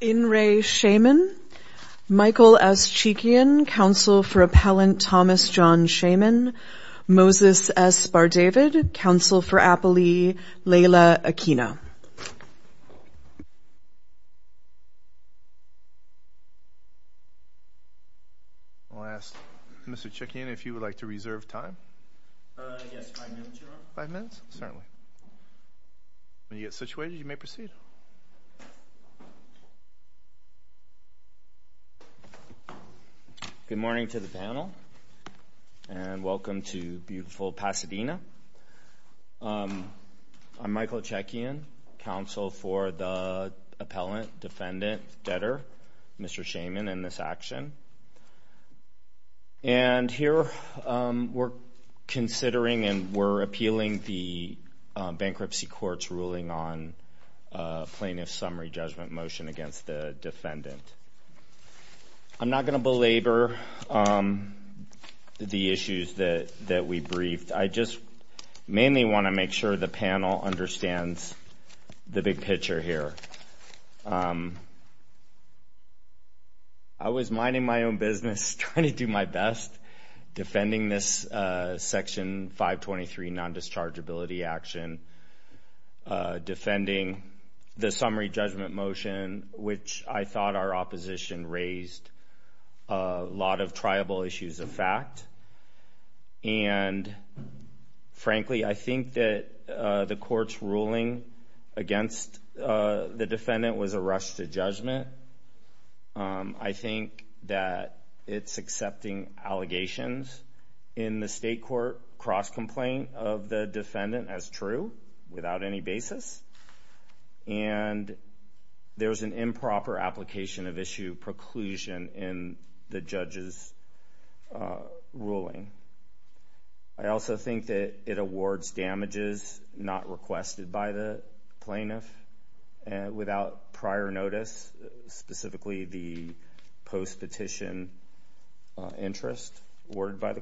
In re. Shayman. Michael S. Cheekian, counsel for appellant Thomas John Shayman. Moses S. Bardavid, counsel for appellee Laila Akina. I'll ask Mr. Cheekian if you would like to reserve time. Five minutes? Certainly. When you get situated, you may proceed. Good morning to the panel and welcome to beautiful Pasadena. I'm Michael Cheekian, counsel for the appellant, defendant, debtor, Mr. Shayman, in this action. And here we're considering and we're appealing the bankruptcy court's ruling on plaintiff's summary judgment motion against the defendant. I'm not going to belabor the issues that we briefed. I just mainly want to make sure the panel understands the big picture here. I was minding my own business, trying to do my best, defending this Section 523 non-dischargeability action, defending the summary judgment motion, which I thought our opposition raised a lot of triable issues of fact. And frankly, I think that the court's ruling against the allegations in the state court cross-complaint of the defendant as true without any basis. And there's an improper application of issue preclusion in the judge's ruling. I also think that it awards damages not requested by the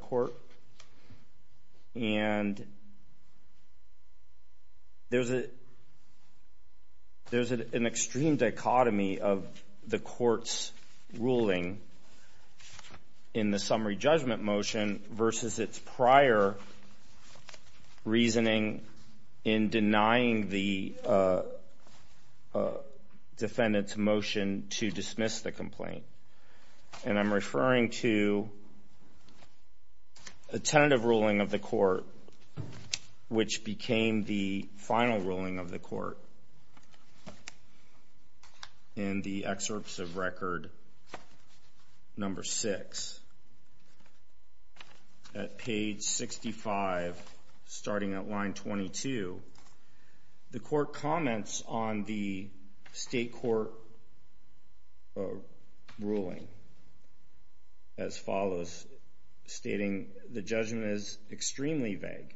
court. And there's an extreme dichotomy of the court's ruling in the summary judgment motion versus its prior reasoning in denying the defendant's complaint. And I'm referring to a tentative ruling of the court, which became the final ruling of the court in the excerpts of record number six at page 65, starting at line 22. The court comments on the state court ruling as follows, stating, the judgment is extremely vague.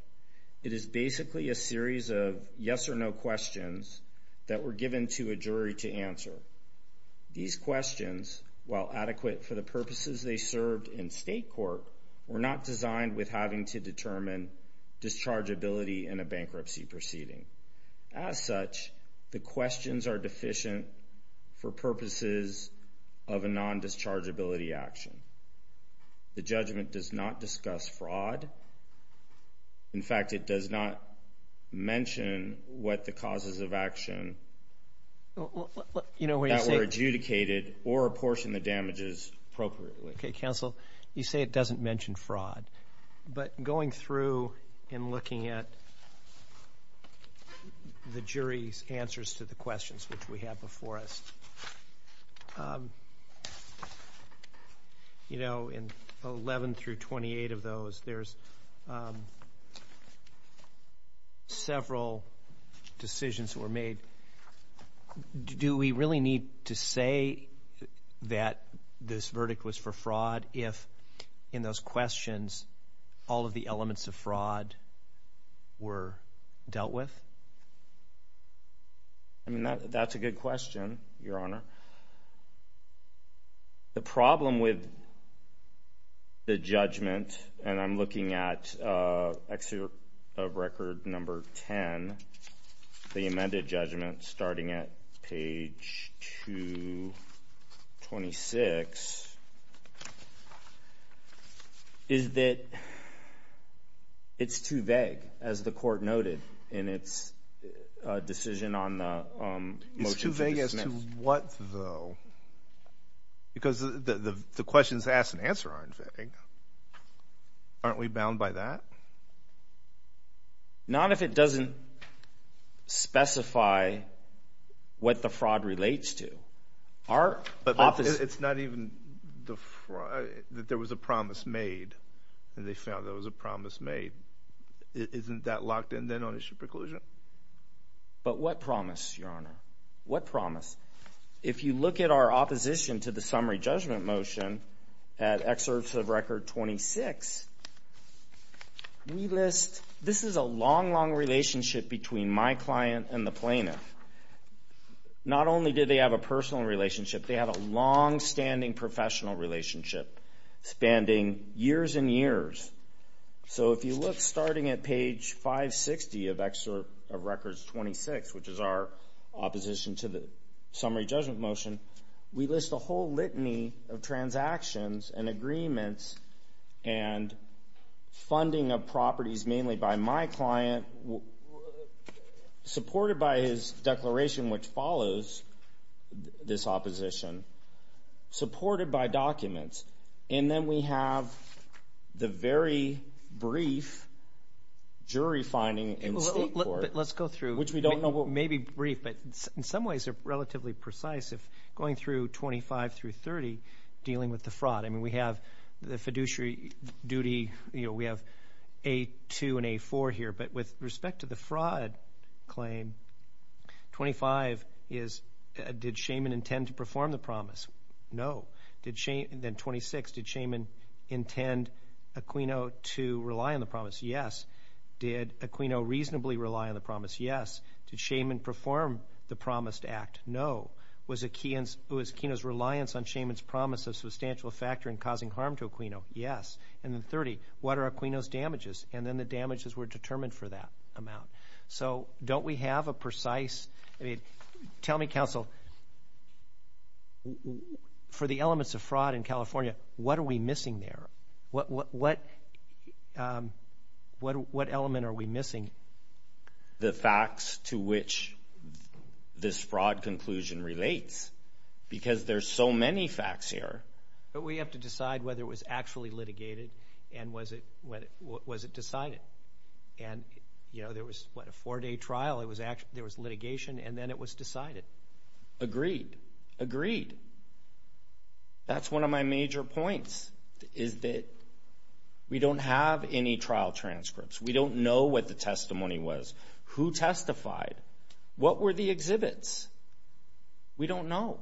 It is basically a series of yes or no questions that were given to a jury to answer. These questions, while adequate for the purposes they served in state court, were not designed with having to determine dischargeability in a bankruptcy proceeding. As such, the questions are deficient for purposes of a non-dischargeability action. The judgment does not discuss fraud. In fact, it does not mention what the causes of the damages appropriately. Okay, counsel. You say it doesn't mention fraud. But going through and looking at the jury's answers to the questions which we have before us, you know, in 11 through 28 of those, there's several decisions were made. Do we really need to say that this verdict was for fraud if, in those questions, all of the elements of fraud were dealt with? I mean, that's a good question, Your Honor. The problem with the judgment, and I'm looking at excerpt of record number 10, the amended judgment starting at page 226, is that it's too vague, as the court noted in its decision on the motion to dismiss. It's too vague as to what, though? Because the questions asked and answer aren't vague. Aren't we bound by that? Not if it doesn't specify what the fraud relates to. But it's not even that there was a promise made, and they found there was a promise made. Isn't that locked in then on issue preclusion? But what promise, Your Honor? What promise? If you look at our opposition to the judgment, we list... This is a long, long relationship between my client and the plaintiff. Not only did they have a personal relationship, they had a long standing professional relationship, spanning years and years. So if you look starting at page 560 of excerpt of record 26, which is our opposition to the summary judgment motion, we list a whole litany of transactions and agreements and funding of properties, mainly by my client, supported by his declaration, which follows this opposition, supported by documents. And then we have the very brief jury finding in state court. Let's go through. Which we don't know what... Maybe brief, but in some ways they're relatively precise. Going through 25 through 30, dealing with the fraud. I mean, we have the fiduciary duty, you know, we have A2 and A4 here. But with respect to the fraud claim, 25 is, did Shaman intend to perform the promise? No. Then 26, did Shaman intend Aquino to rely on the promise? Yes. Did Aquino reasonably rely on the promise? Yes. Did Shaman perform the promised act? No. Was Aquino's reliance on Shaman's promise a substantial factor in causing harm to Aquino? Yes. And then 30, what are Aquino's damages? And then the damages were determined for that amount. So don't we have a precise... I mean, tell me, counsel, for the elements of fraud in California, what are we missing there? What element are we missing? The facts to which this fraud conclusion relates, because there's so many facts here. But we have to decide whether it was actually litigated and was it decided. And, you know, there was, what, a four-day trial, it was actually, there was litigation, and then it was decided. Agreed. Agreed. That's one of my major points, is that we don't have any trial transcripts. We don't know what the testimony was, who testified, what were the exhibits. We don't know.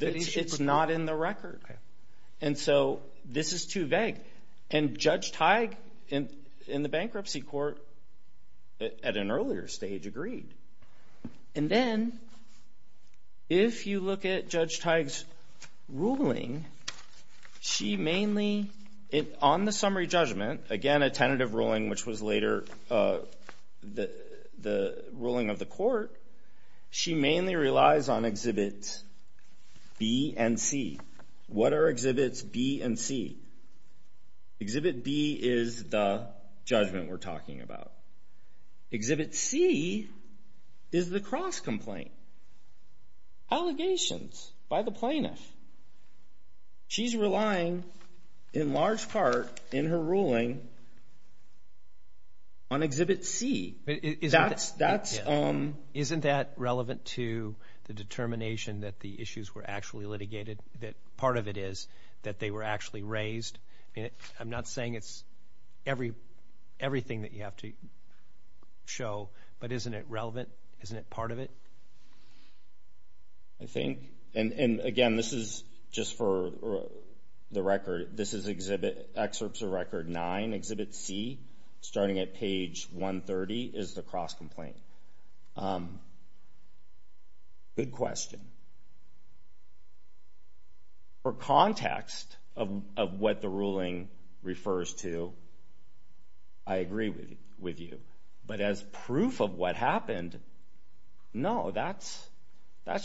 It's not in the record. And so this is too vague. And Judge Teig, in the bankruptcy court at an earlier stage, agreed. And then, if you look at Judge Teig's ruling, she mainly, on the summary judgment, again, a tentative ruling which was later the ruling of the court, she mainly relies on exhibits B and C. What are exhibits B and C? Exhibit B is the judgment we're talking about. Exhibit C is the cross-complaint. Allegations by the plaintiff. She's relying, in large part, in her ruling, on exhibit C. Isn't that relevant to the determination that the issues were actually litigated, that part of it is, that they were actually raised? I'm not saying it's everything that you have to show, but isn't it relevant? Isn't it part of it? I think, and again, this is just for the record, this is Excerpts of Record 9. Exhibit C, starting at page 130, is the cross-complaint. Good question. For context of what the ruling refers to, I agree with you. But as proof of what happened, no, that's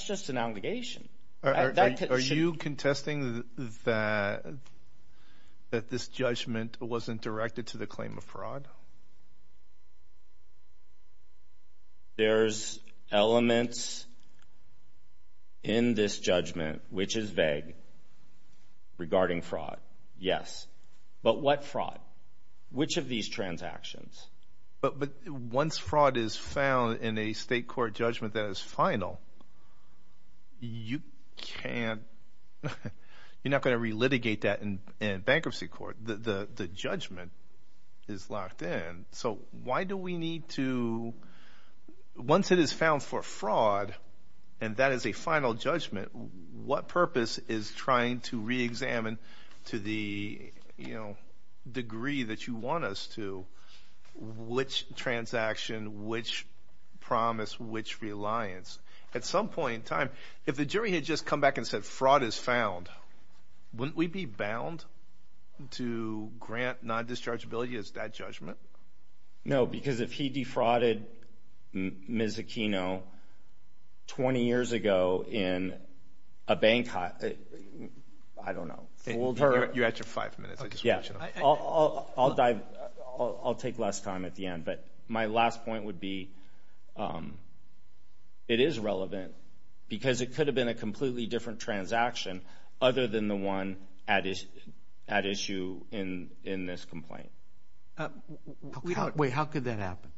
just an allegation. Are you contesting that that this judgment wasn't directed to the claim of fraud? There's elements in this judgment which is vague regarding fraud, yes. But what fraud? Which of these transactions? But once fraud is found in a state court and there is a judgment that is final, you can't, you're not going to re-litigate that in bankruptcy court. The judgment is locked in. So why do we need to, once it is found for fraud, and that is a final judgment, what purpose is trying to re-examine to the, you know, degree that you want us to, which transaction, which promise, which reliance? At some point in time, if the jury had just come back and said, fraud is found, wouldn't we be bound to grant non-dischargeability as that judgment? No, because if he defrauded Ms. Aquino 20 years ago in a bank, I don't know, you're at your five minutes. I'll dive, I'll take less time at the end, but my last point would be, it is relevant because it could have been a completely different transaction other than the one at issue in this complaint. We don't, wait, how could that happen?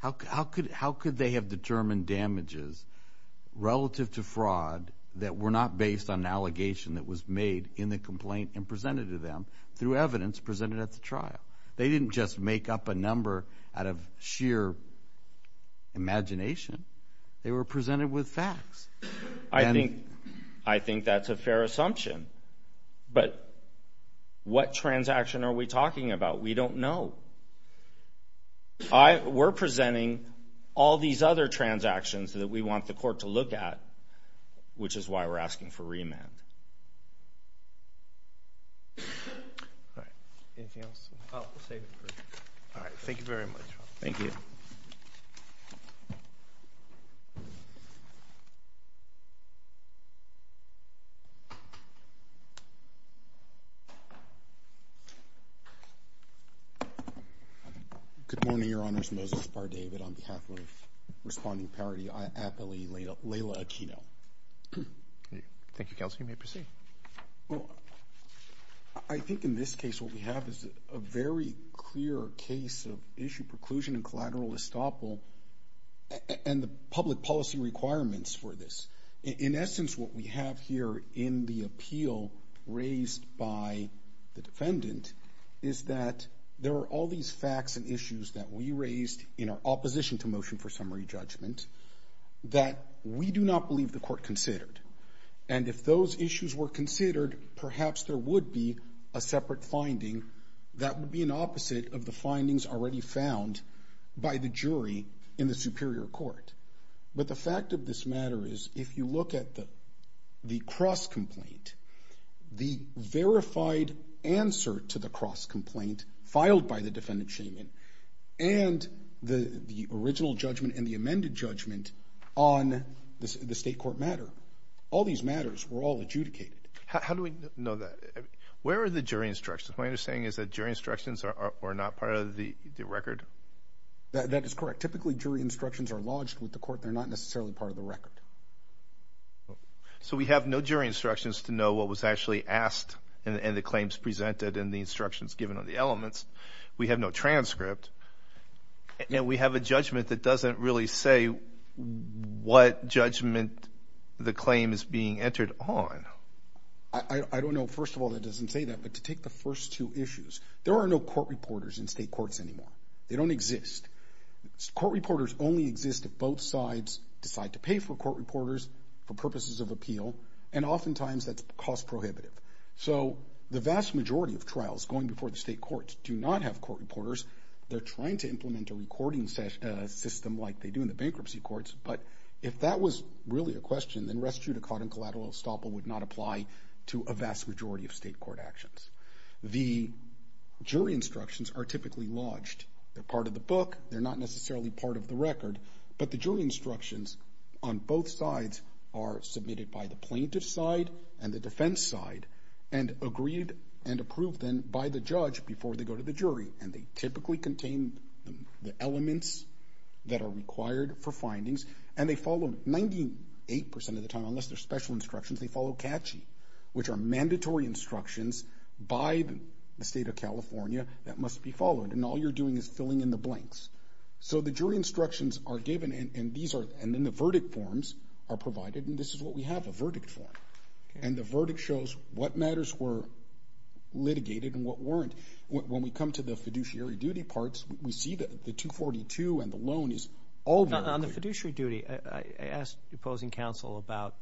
How could they have determined damages relative to fraud that were not based on an allegation that was made in the complaint and presented to them through evidence presented at the trial? They didn't just make up a number out of sheer imagination. They were presented with facts. I think that's a fair assumption, but what transaction are we talking about? We don't know. We're presenting all these other transactions that we want the which is why we're asking for remand. Thank you very much. Thank you. Good morning, Your Honors. Moses Bardavid on behalf of Responding Parity, I Thank you, Kelsey. You may proceed. I think in this case what we have is a very clear case of issue preclusion and collateral estoppel and the public policy requirements for this. In essence, what we have here in the appeal raised by the defendant is that there are all these facts and issues that we raised in our opposition to motion for summary judgment that we do not believe the And if those issues were considered, perhaps there would be a separate finding that would be an opposite of the findings already found by the jury in the superior court. But the fact of this matter is, if you look at the cross complaint, the verified answer to the cross complaint filed by the defendant shaming and the original judgment and the amended judgment on the state court matter, all these matters were all adjudicated. How do we know that? Where are the jury instructions? My understanding is that jury instructions are not part of the record. That is correct. Typically, jury instructions are lodged with the court. They're not necessarily part of the record. So we have no jury instructions to know what was actually asked and the claims presented in the instructions given on the elements. We have no transcript and we have a judgment that doesn't really say what judgment the claim is being entered on. I don't know. First of all, that doesn't say that. But to take the first two issues, there are no court reporters in state courts anymore. They don't exist. Court reporters only exist if both sides decide to pay for court reporters for purposes of appeal, and oftentimes that's cost prohibitive. So the vast majority of trials going before the state courts do not have court reporting system like they do in the bankruptcy courts. But if that was really a question, then res judicata and collateral estoppel would not apply to a vast majority of state court actions. The jury instructions are typically lodged. They're part of the book. They're not necessarily part of the record. But the jury instructions on both sides are submitted by the plaintiff's side and the defense side and agreed and approved then by the judge before they go to the defense that are required for findings. And they follow 98% of the time, unless they're special instructions, they follow catchy, which are mandatory instructions by the state of California that must be followed. And all you're doing is filling in the blanks. So the jury instructions are given and these are and then the verdict forms are provided. And this is what we have, a verdict form. And the verdict shows what matters were litigated and what to and the loan is all on the fiduciary duty. I asked the opposing counsel about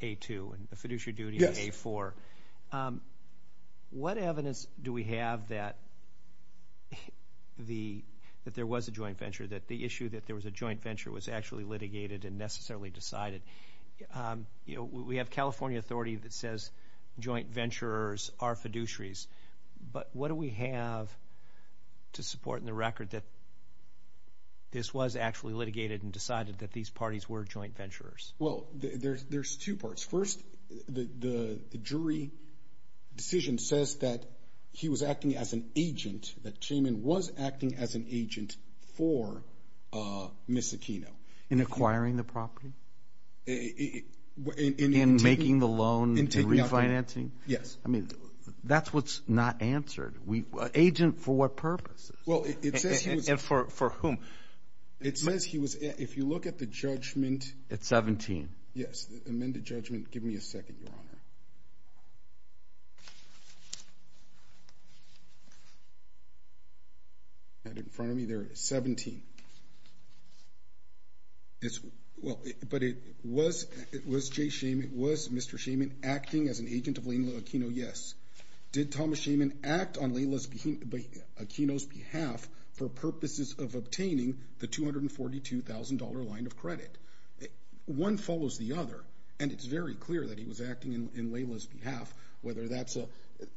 a two fiduciary duty for, um, what evidence do we have that the that there was a joint venture that the issue that there was a joint venture was actually litigated and necessarily decided. Um, you know, we have California authority that says joint ventures are fiduciaries. But what do we have to support in the record that this was actually litigated and decided that these parties were joint ventures? Well, there's two parts. First, the jury decision says that he was acting as an agent that came in, was acting as an agent for, uh, Miss Aquino in acquiring the property in making the loan and refinancing. Yes. I mean, that's what's not answered. We agent for what purposes? Well, it's for for whom? It says he was. If you look at the judgment at 17. Yes. Amended judgment. Give me a second. And in front of me, there is 17. It's well, but it was. It was Jay Sheehan. It was Mr Sheehan acting as an agent of Laila Aquino. Yes. Did Thomas Sheehan act on Laila Aquino's behalf for purposes of obtaining the $242,000 line of credit? One follows the other, and it's very clear that he was acting in Laila's behalf, whether that's a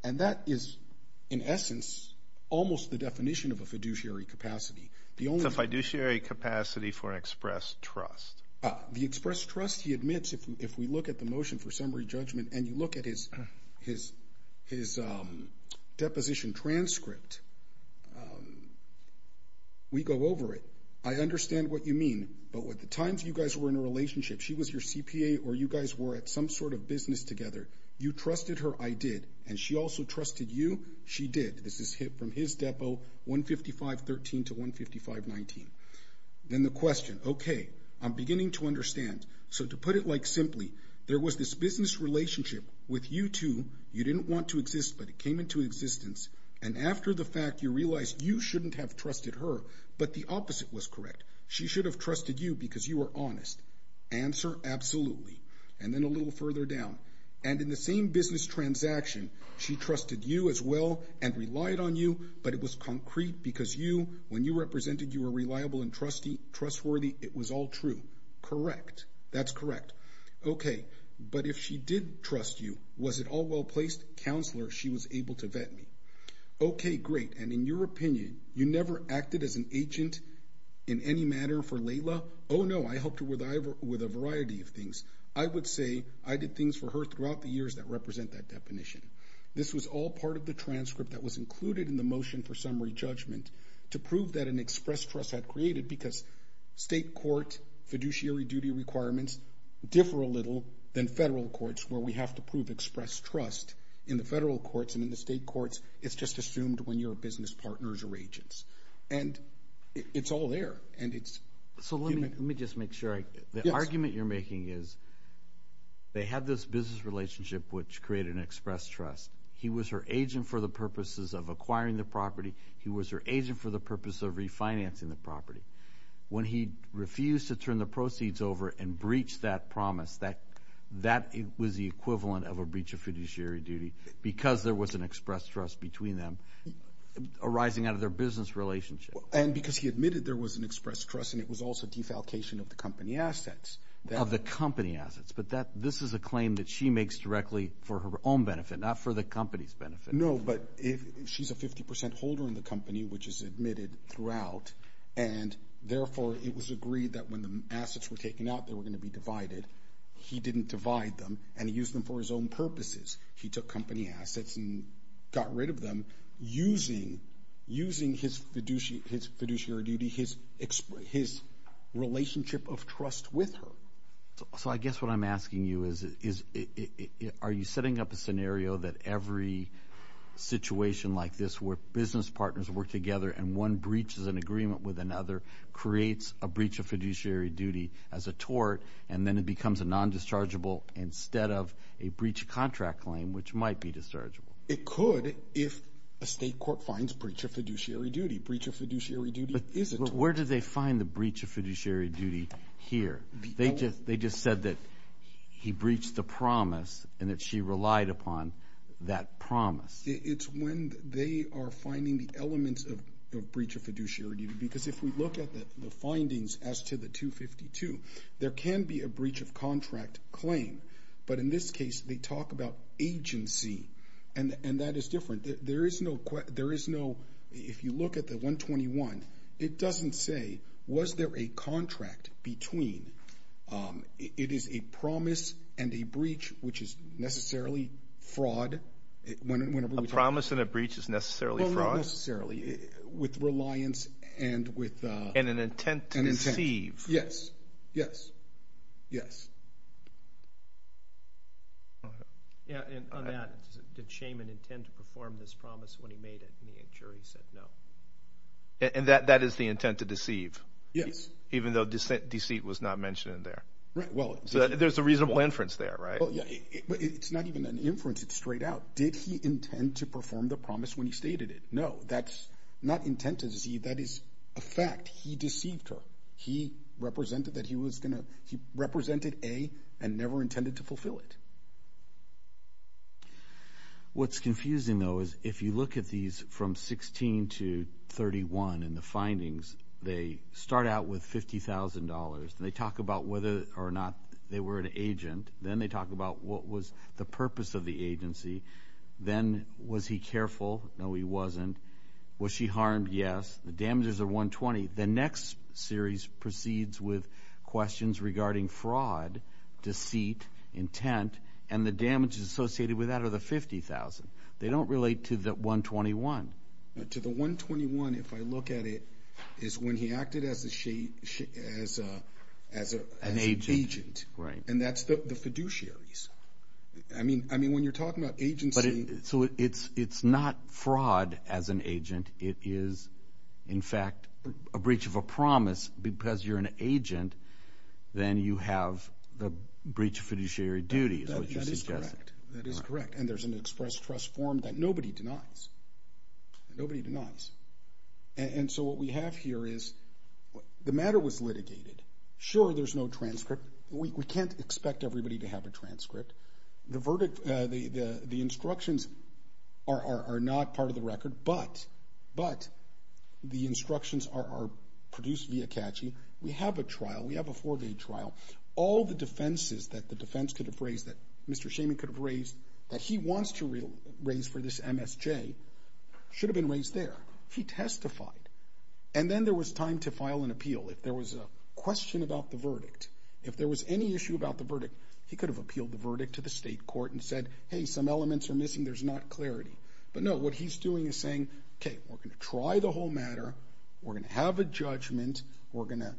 and that is, in essence, almost the definition of a fiduciary capacity. The only fiduciary capacity for an express trust, the express trust, he admits. If we look at the motion for summary judgment and you his his his deposition transcript, we go over it. I understand what you mean. But what the times you guys were in a relationship, she was your CPA or you guys were at some sort of business together. You trusted her. I did. And she also trusted you. She did. This is hit from his depo. 1 55 13 to 1 55 19. Then the question. Okay, I'm beginning to understand. So to put it like simply, there was this business relationship with you two. You didn't want to exist, but it came into existence. And after the fact, you realized you shouldn't have trusted her, but the opposite was correct. She should have trusted you because you were honest. Answer. Absolutely. And then a little further down and in the same business transaction, she trusted you as well and relied on you. But it was concrete because you when you represented you were reliable and trustee trustworthy. It was all true. Correct. That's correct. Okay. But if she did trust you, was it all well placed counselor? She was able to vet me. Okay, great. And in your opinion, you never acted as an agent in any manner for Layla. Oh, no. I helped her with Iver with a variety of things. I would say I did things for her throughout the years that represent that definition. This was all part of the transcript that was included in the motion for summary judgment to prove that an express trust had created because state court fiduciary duty requirements differ a little than federal courts where we have to prove express trust in the federal courts and in the state courts. It's just assumed when your business partners or agents and it's all there and it's so let me just make sure the argument you're making is they had this business relationship which created an express trust. He was her agent for the purposes of acquiring the property. He was her agent for the purpose of refinancing the property when he refused to turn the proceeds over and breach that promise that that was the equivalent of a breach of fiduciary duty because there was an express trust between them arising out of their business relationship. And because he admitted there was an express trust and it was also defalcation of the company assets. Of the company assets, but that this is a claim that she makes directly for her own benefit, not for the company's benefit. No, but if she's a 50% holder in the company which is admitted throughout and therefore it was agreed that when assets were taken out they were going to be divided. He didn't divide them and he used them for his own purposes. He took company assets and got rid of them using using his fiduciary duty, his relationship of trust with her. So I guess what I'm asking you is are you setting up a scenario that every situation like this where business partners work together and one breaches an agreement with another, creates a breach of fiduciary duty as a tort and then it becomes a non-dischargeable instead of a breach of contract claim which might be dischargeable. It could if a state court finds breach of fiduciary duty. Breach of fiduciary duty is a tort. But where did they find the breach of fiduciary duty here? They just said that he breached the promise and that she relied upon that promise. It's when they are finding the elements of breach of fiduciary duty. Because if we look at the findings as to the 252, there can be a breach of contract claim. But in this case they talk about agency and that is different. There is no, if you look at the 121, it doesn't say was there a contract between, it is a promise and a breach which is necessarily fraud. A promise and a breach is necessarily fraud? Not necessarily. With reliance and with... And an intent to deceive. Yes, yes, yes. Yeah, and on that, did Shaman intend to perform this promise when he made it and the jury said no? And that is the intent to deceive? Yes. Even though deceit was not mentioned in there? Right, well... So there's a reasonable inference there, right? Well, yeah, it's not even an inference, it's straight out. Did he intend to perform the promise? No, that's not intent to deceive, that is a fact. He deceived her. He represented that he was gonna, he represented A and never intended to fulfill it. What's confusing though is if you look at these from 16 to 31 and the findings, they start out with $50,000 and they talk about whether or not they were an agent. Then they talk about what was the purpose of the agency. Then was he careful? No, he wasn't. Was she harmed? Yes. The damages are $120,000. The next series proceeds with questions regarding fraud, deceit, intent, and the damages associated with that are the $50,000. They don't relate to the $121,000. To the $121,000, if I look at it, is when he acted as an agent. Right. And that's the fiduciaries. I mean, when you're talking about agency... So it's not fraud as an agent, it is, in fact, a breach of a promise because you're an agent, then you have the breach of fiduciary duties. That is correct. And there's an express trust form that nobody denies. Nobody denies. And so what we have here is, the matter was litigated. Sure, there's no transcript. We can't expect everybody to have a transcript. The instructions are not part of the record, but the instructions are produced via CACHI. We have a trial. We have a four-day trial. All the defenses that the defense could have raised, that Mr. Shaman could have raised, that he wants to raise for this MSJ, should have been raised there. He testified. And then there was time to file an appeal. If there was a question about the verdict, if there was any issue about the verdict, he could have appealed the verdict to the state court and said, hey, some elements are missing, there's not clarity. But no, what he's doing is saying, okay, we're going to try the whole matter, we're going to have a judgment, we're going to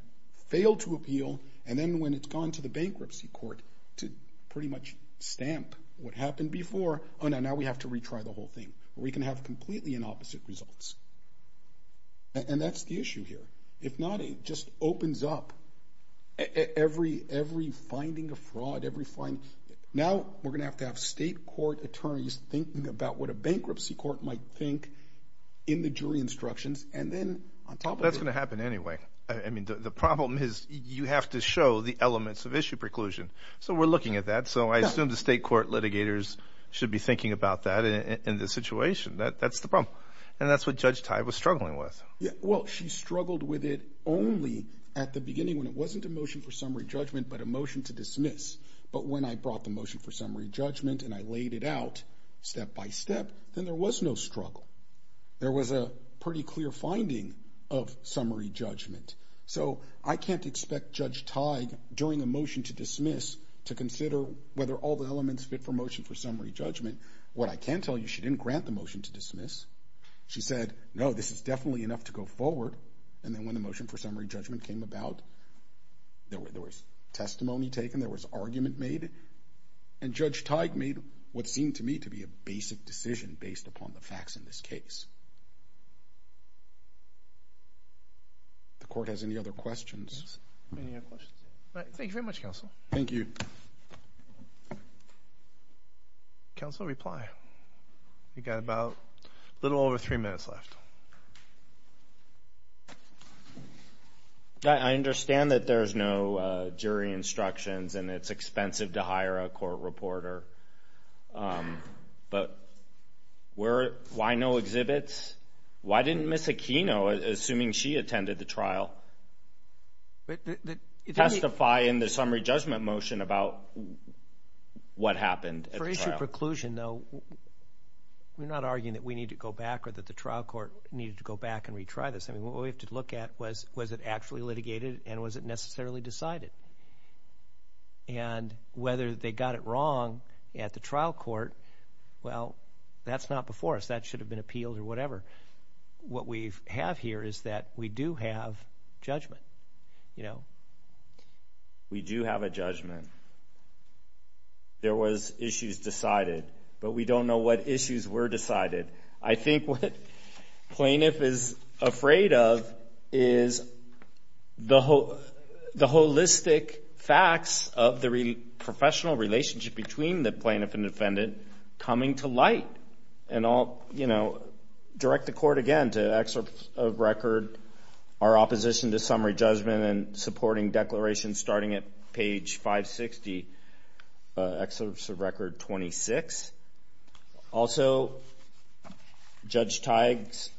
fail to appeal, and then when it's gone to the bankruptcy court to pretty much stamp what happened before, oh no, now we have to retry the whole thing. We can have completely inopposite results. And that's the issue here. If not, it just opens up every finding of fraud, every finding. Now we're going to have to have state court attorneys thinking about what a bankruptcy court might think in the jury instructions, and then on top of it- That's going to happen anyway. I mean, the problem is you have to show the elements of issue preclusion. So we're looking at that. So I assume the state court litigators should be thinking about that in this situation. That's the problem. And that's what Judge Tive was struggling with. Yeah. Well, she struggled with it only at the beginning when it wasn't a motion for summary judgment, but a motion to dismiss. But when I brought the motion for summary judgment and I laid it out step by step, then there was no struggle. There was a pretty clear finding of summary judgment. So I can't expect Judge Tive, during a motion to dismiss, to consider whether all the elements fit for motion for summary judgment. What I can tell you, she didn't grant the motion to dismiss. She said, no, this is definitely enough to go forward. And when the motion for summary judgment came about, there was testimony taken, there was argument made, and Judge Tive made what seemed to me to be a basic decision based upon the facts in this case. The court has any other questions? Any other questions? Thank you very much, Counsel. Thank you. Counsel, reply. We've got about a little over three minutes left. I understand that there's no jury instructions and it's expensive to hire a court reporter. But why no exhibits? Why didn't Ms. Aquino, assuming she attended the trial, testify in the summary judgment motion about what happened at the trial? For issue of preclusion, though, we're not arguing that we need to go back or that the trial court needed to go back and retry this. I mean, what we have to look at was, was it actually litigated and was it necessarily decided? And whether they got it wrong at the trial court, well, that's not before us. That should have been appealed or whatever. What we have here is that we do have judgment. You know, we do have a judgment. There was issues decided, but we don't know what issues were decided. I think what plaintiff is afraid of is the holistic facts of the professional relationship between the plaintiff and defendant coming to light. And I'll, you know, direct the court again to excerpt of record, our opposition to summary judgment and supporting declaration starting at page 560, excerpts of record 26. Also, Judge Teig's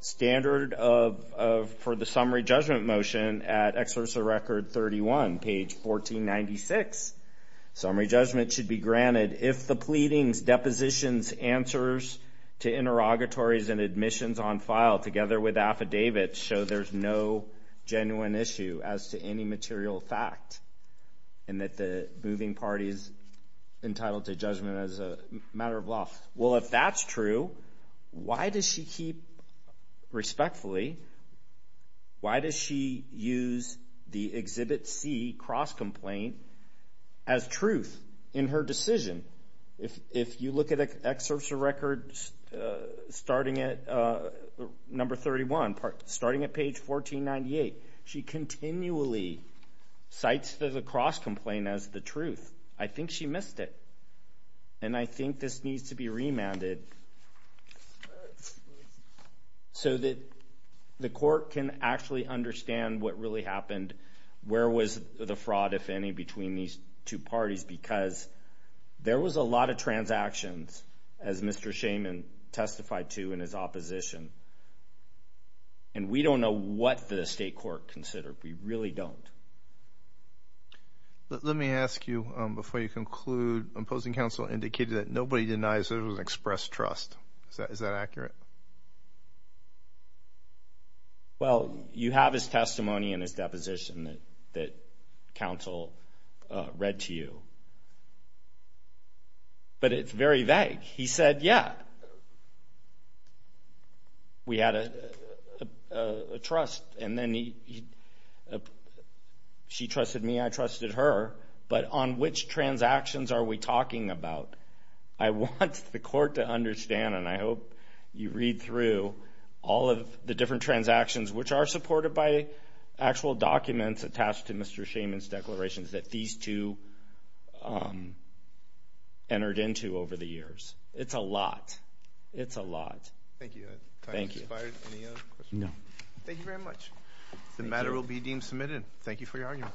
standard of for the summary judgment motion at excerpts of record 31, page 1496. Summary judgment should be granted if the pleadings, depositions, answers to interrogatories and admissions on file together with affidavits show there's no genuine issue as to any entitlement to judgment as a matter of law. Well, if that's true, why does she keep, respectfully, why does she use the Exhibit C cross complaint as truth in her decision? If you look at excerpts of records starting at number 31, starting at page 1498, she missed it. And I think this needs to be remanded so that the court can actually understand what really happened. Where was the fraud, if any, between these two parties? Because there was a lot of transactions, as Mr Shaman testified to in his opposition, and we don't know what the state court considered. We really don't. Let me ask you, before you conclude, opposing counsel indicated that nobody denies there was an expressed trust. Is that accurate? Well, you have his testimony in his deposition that counsel read to you, but it's very vague. He said, Yeah, we had a trust, and then he said, She trusted me. I trusted her. But on which transactions are we talking about? I want the court to understand, and I hope you read through all of the different transactions, which are supported by actual documents attached to Mr Shaman's declarations, that these two entered into over the years. It's a lot. It's a lot. Thank you. Thank you. No. Thank you very much. The matter will be deemed submitted. Thank you for your argument.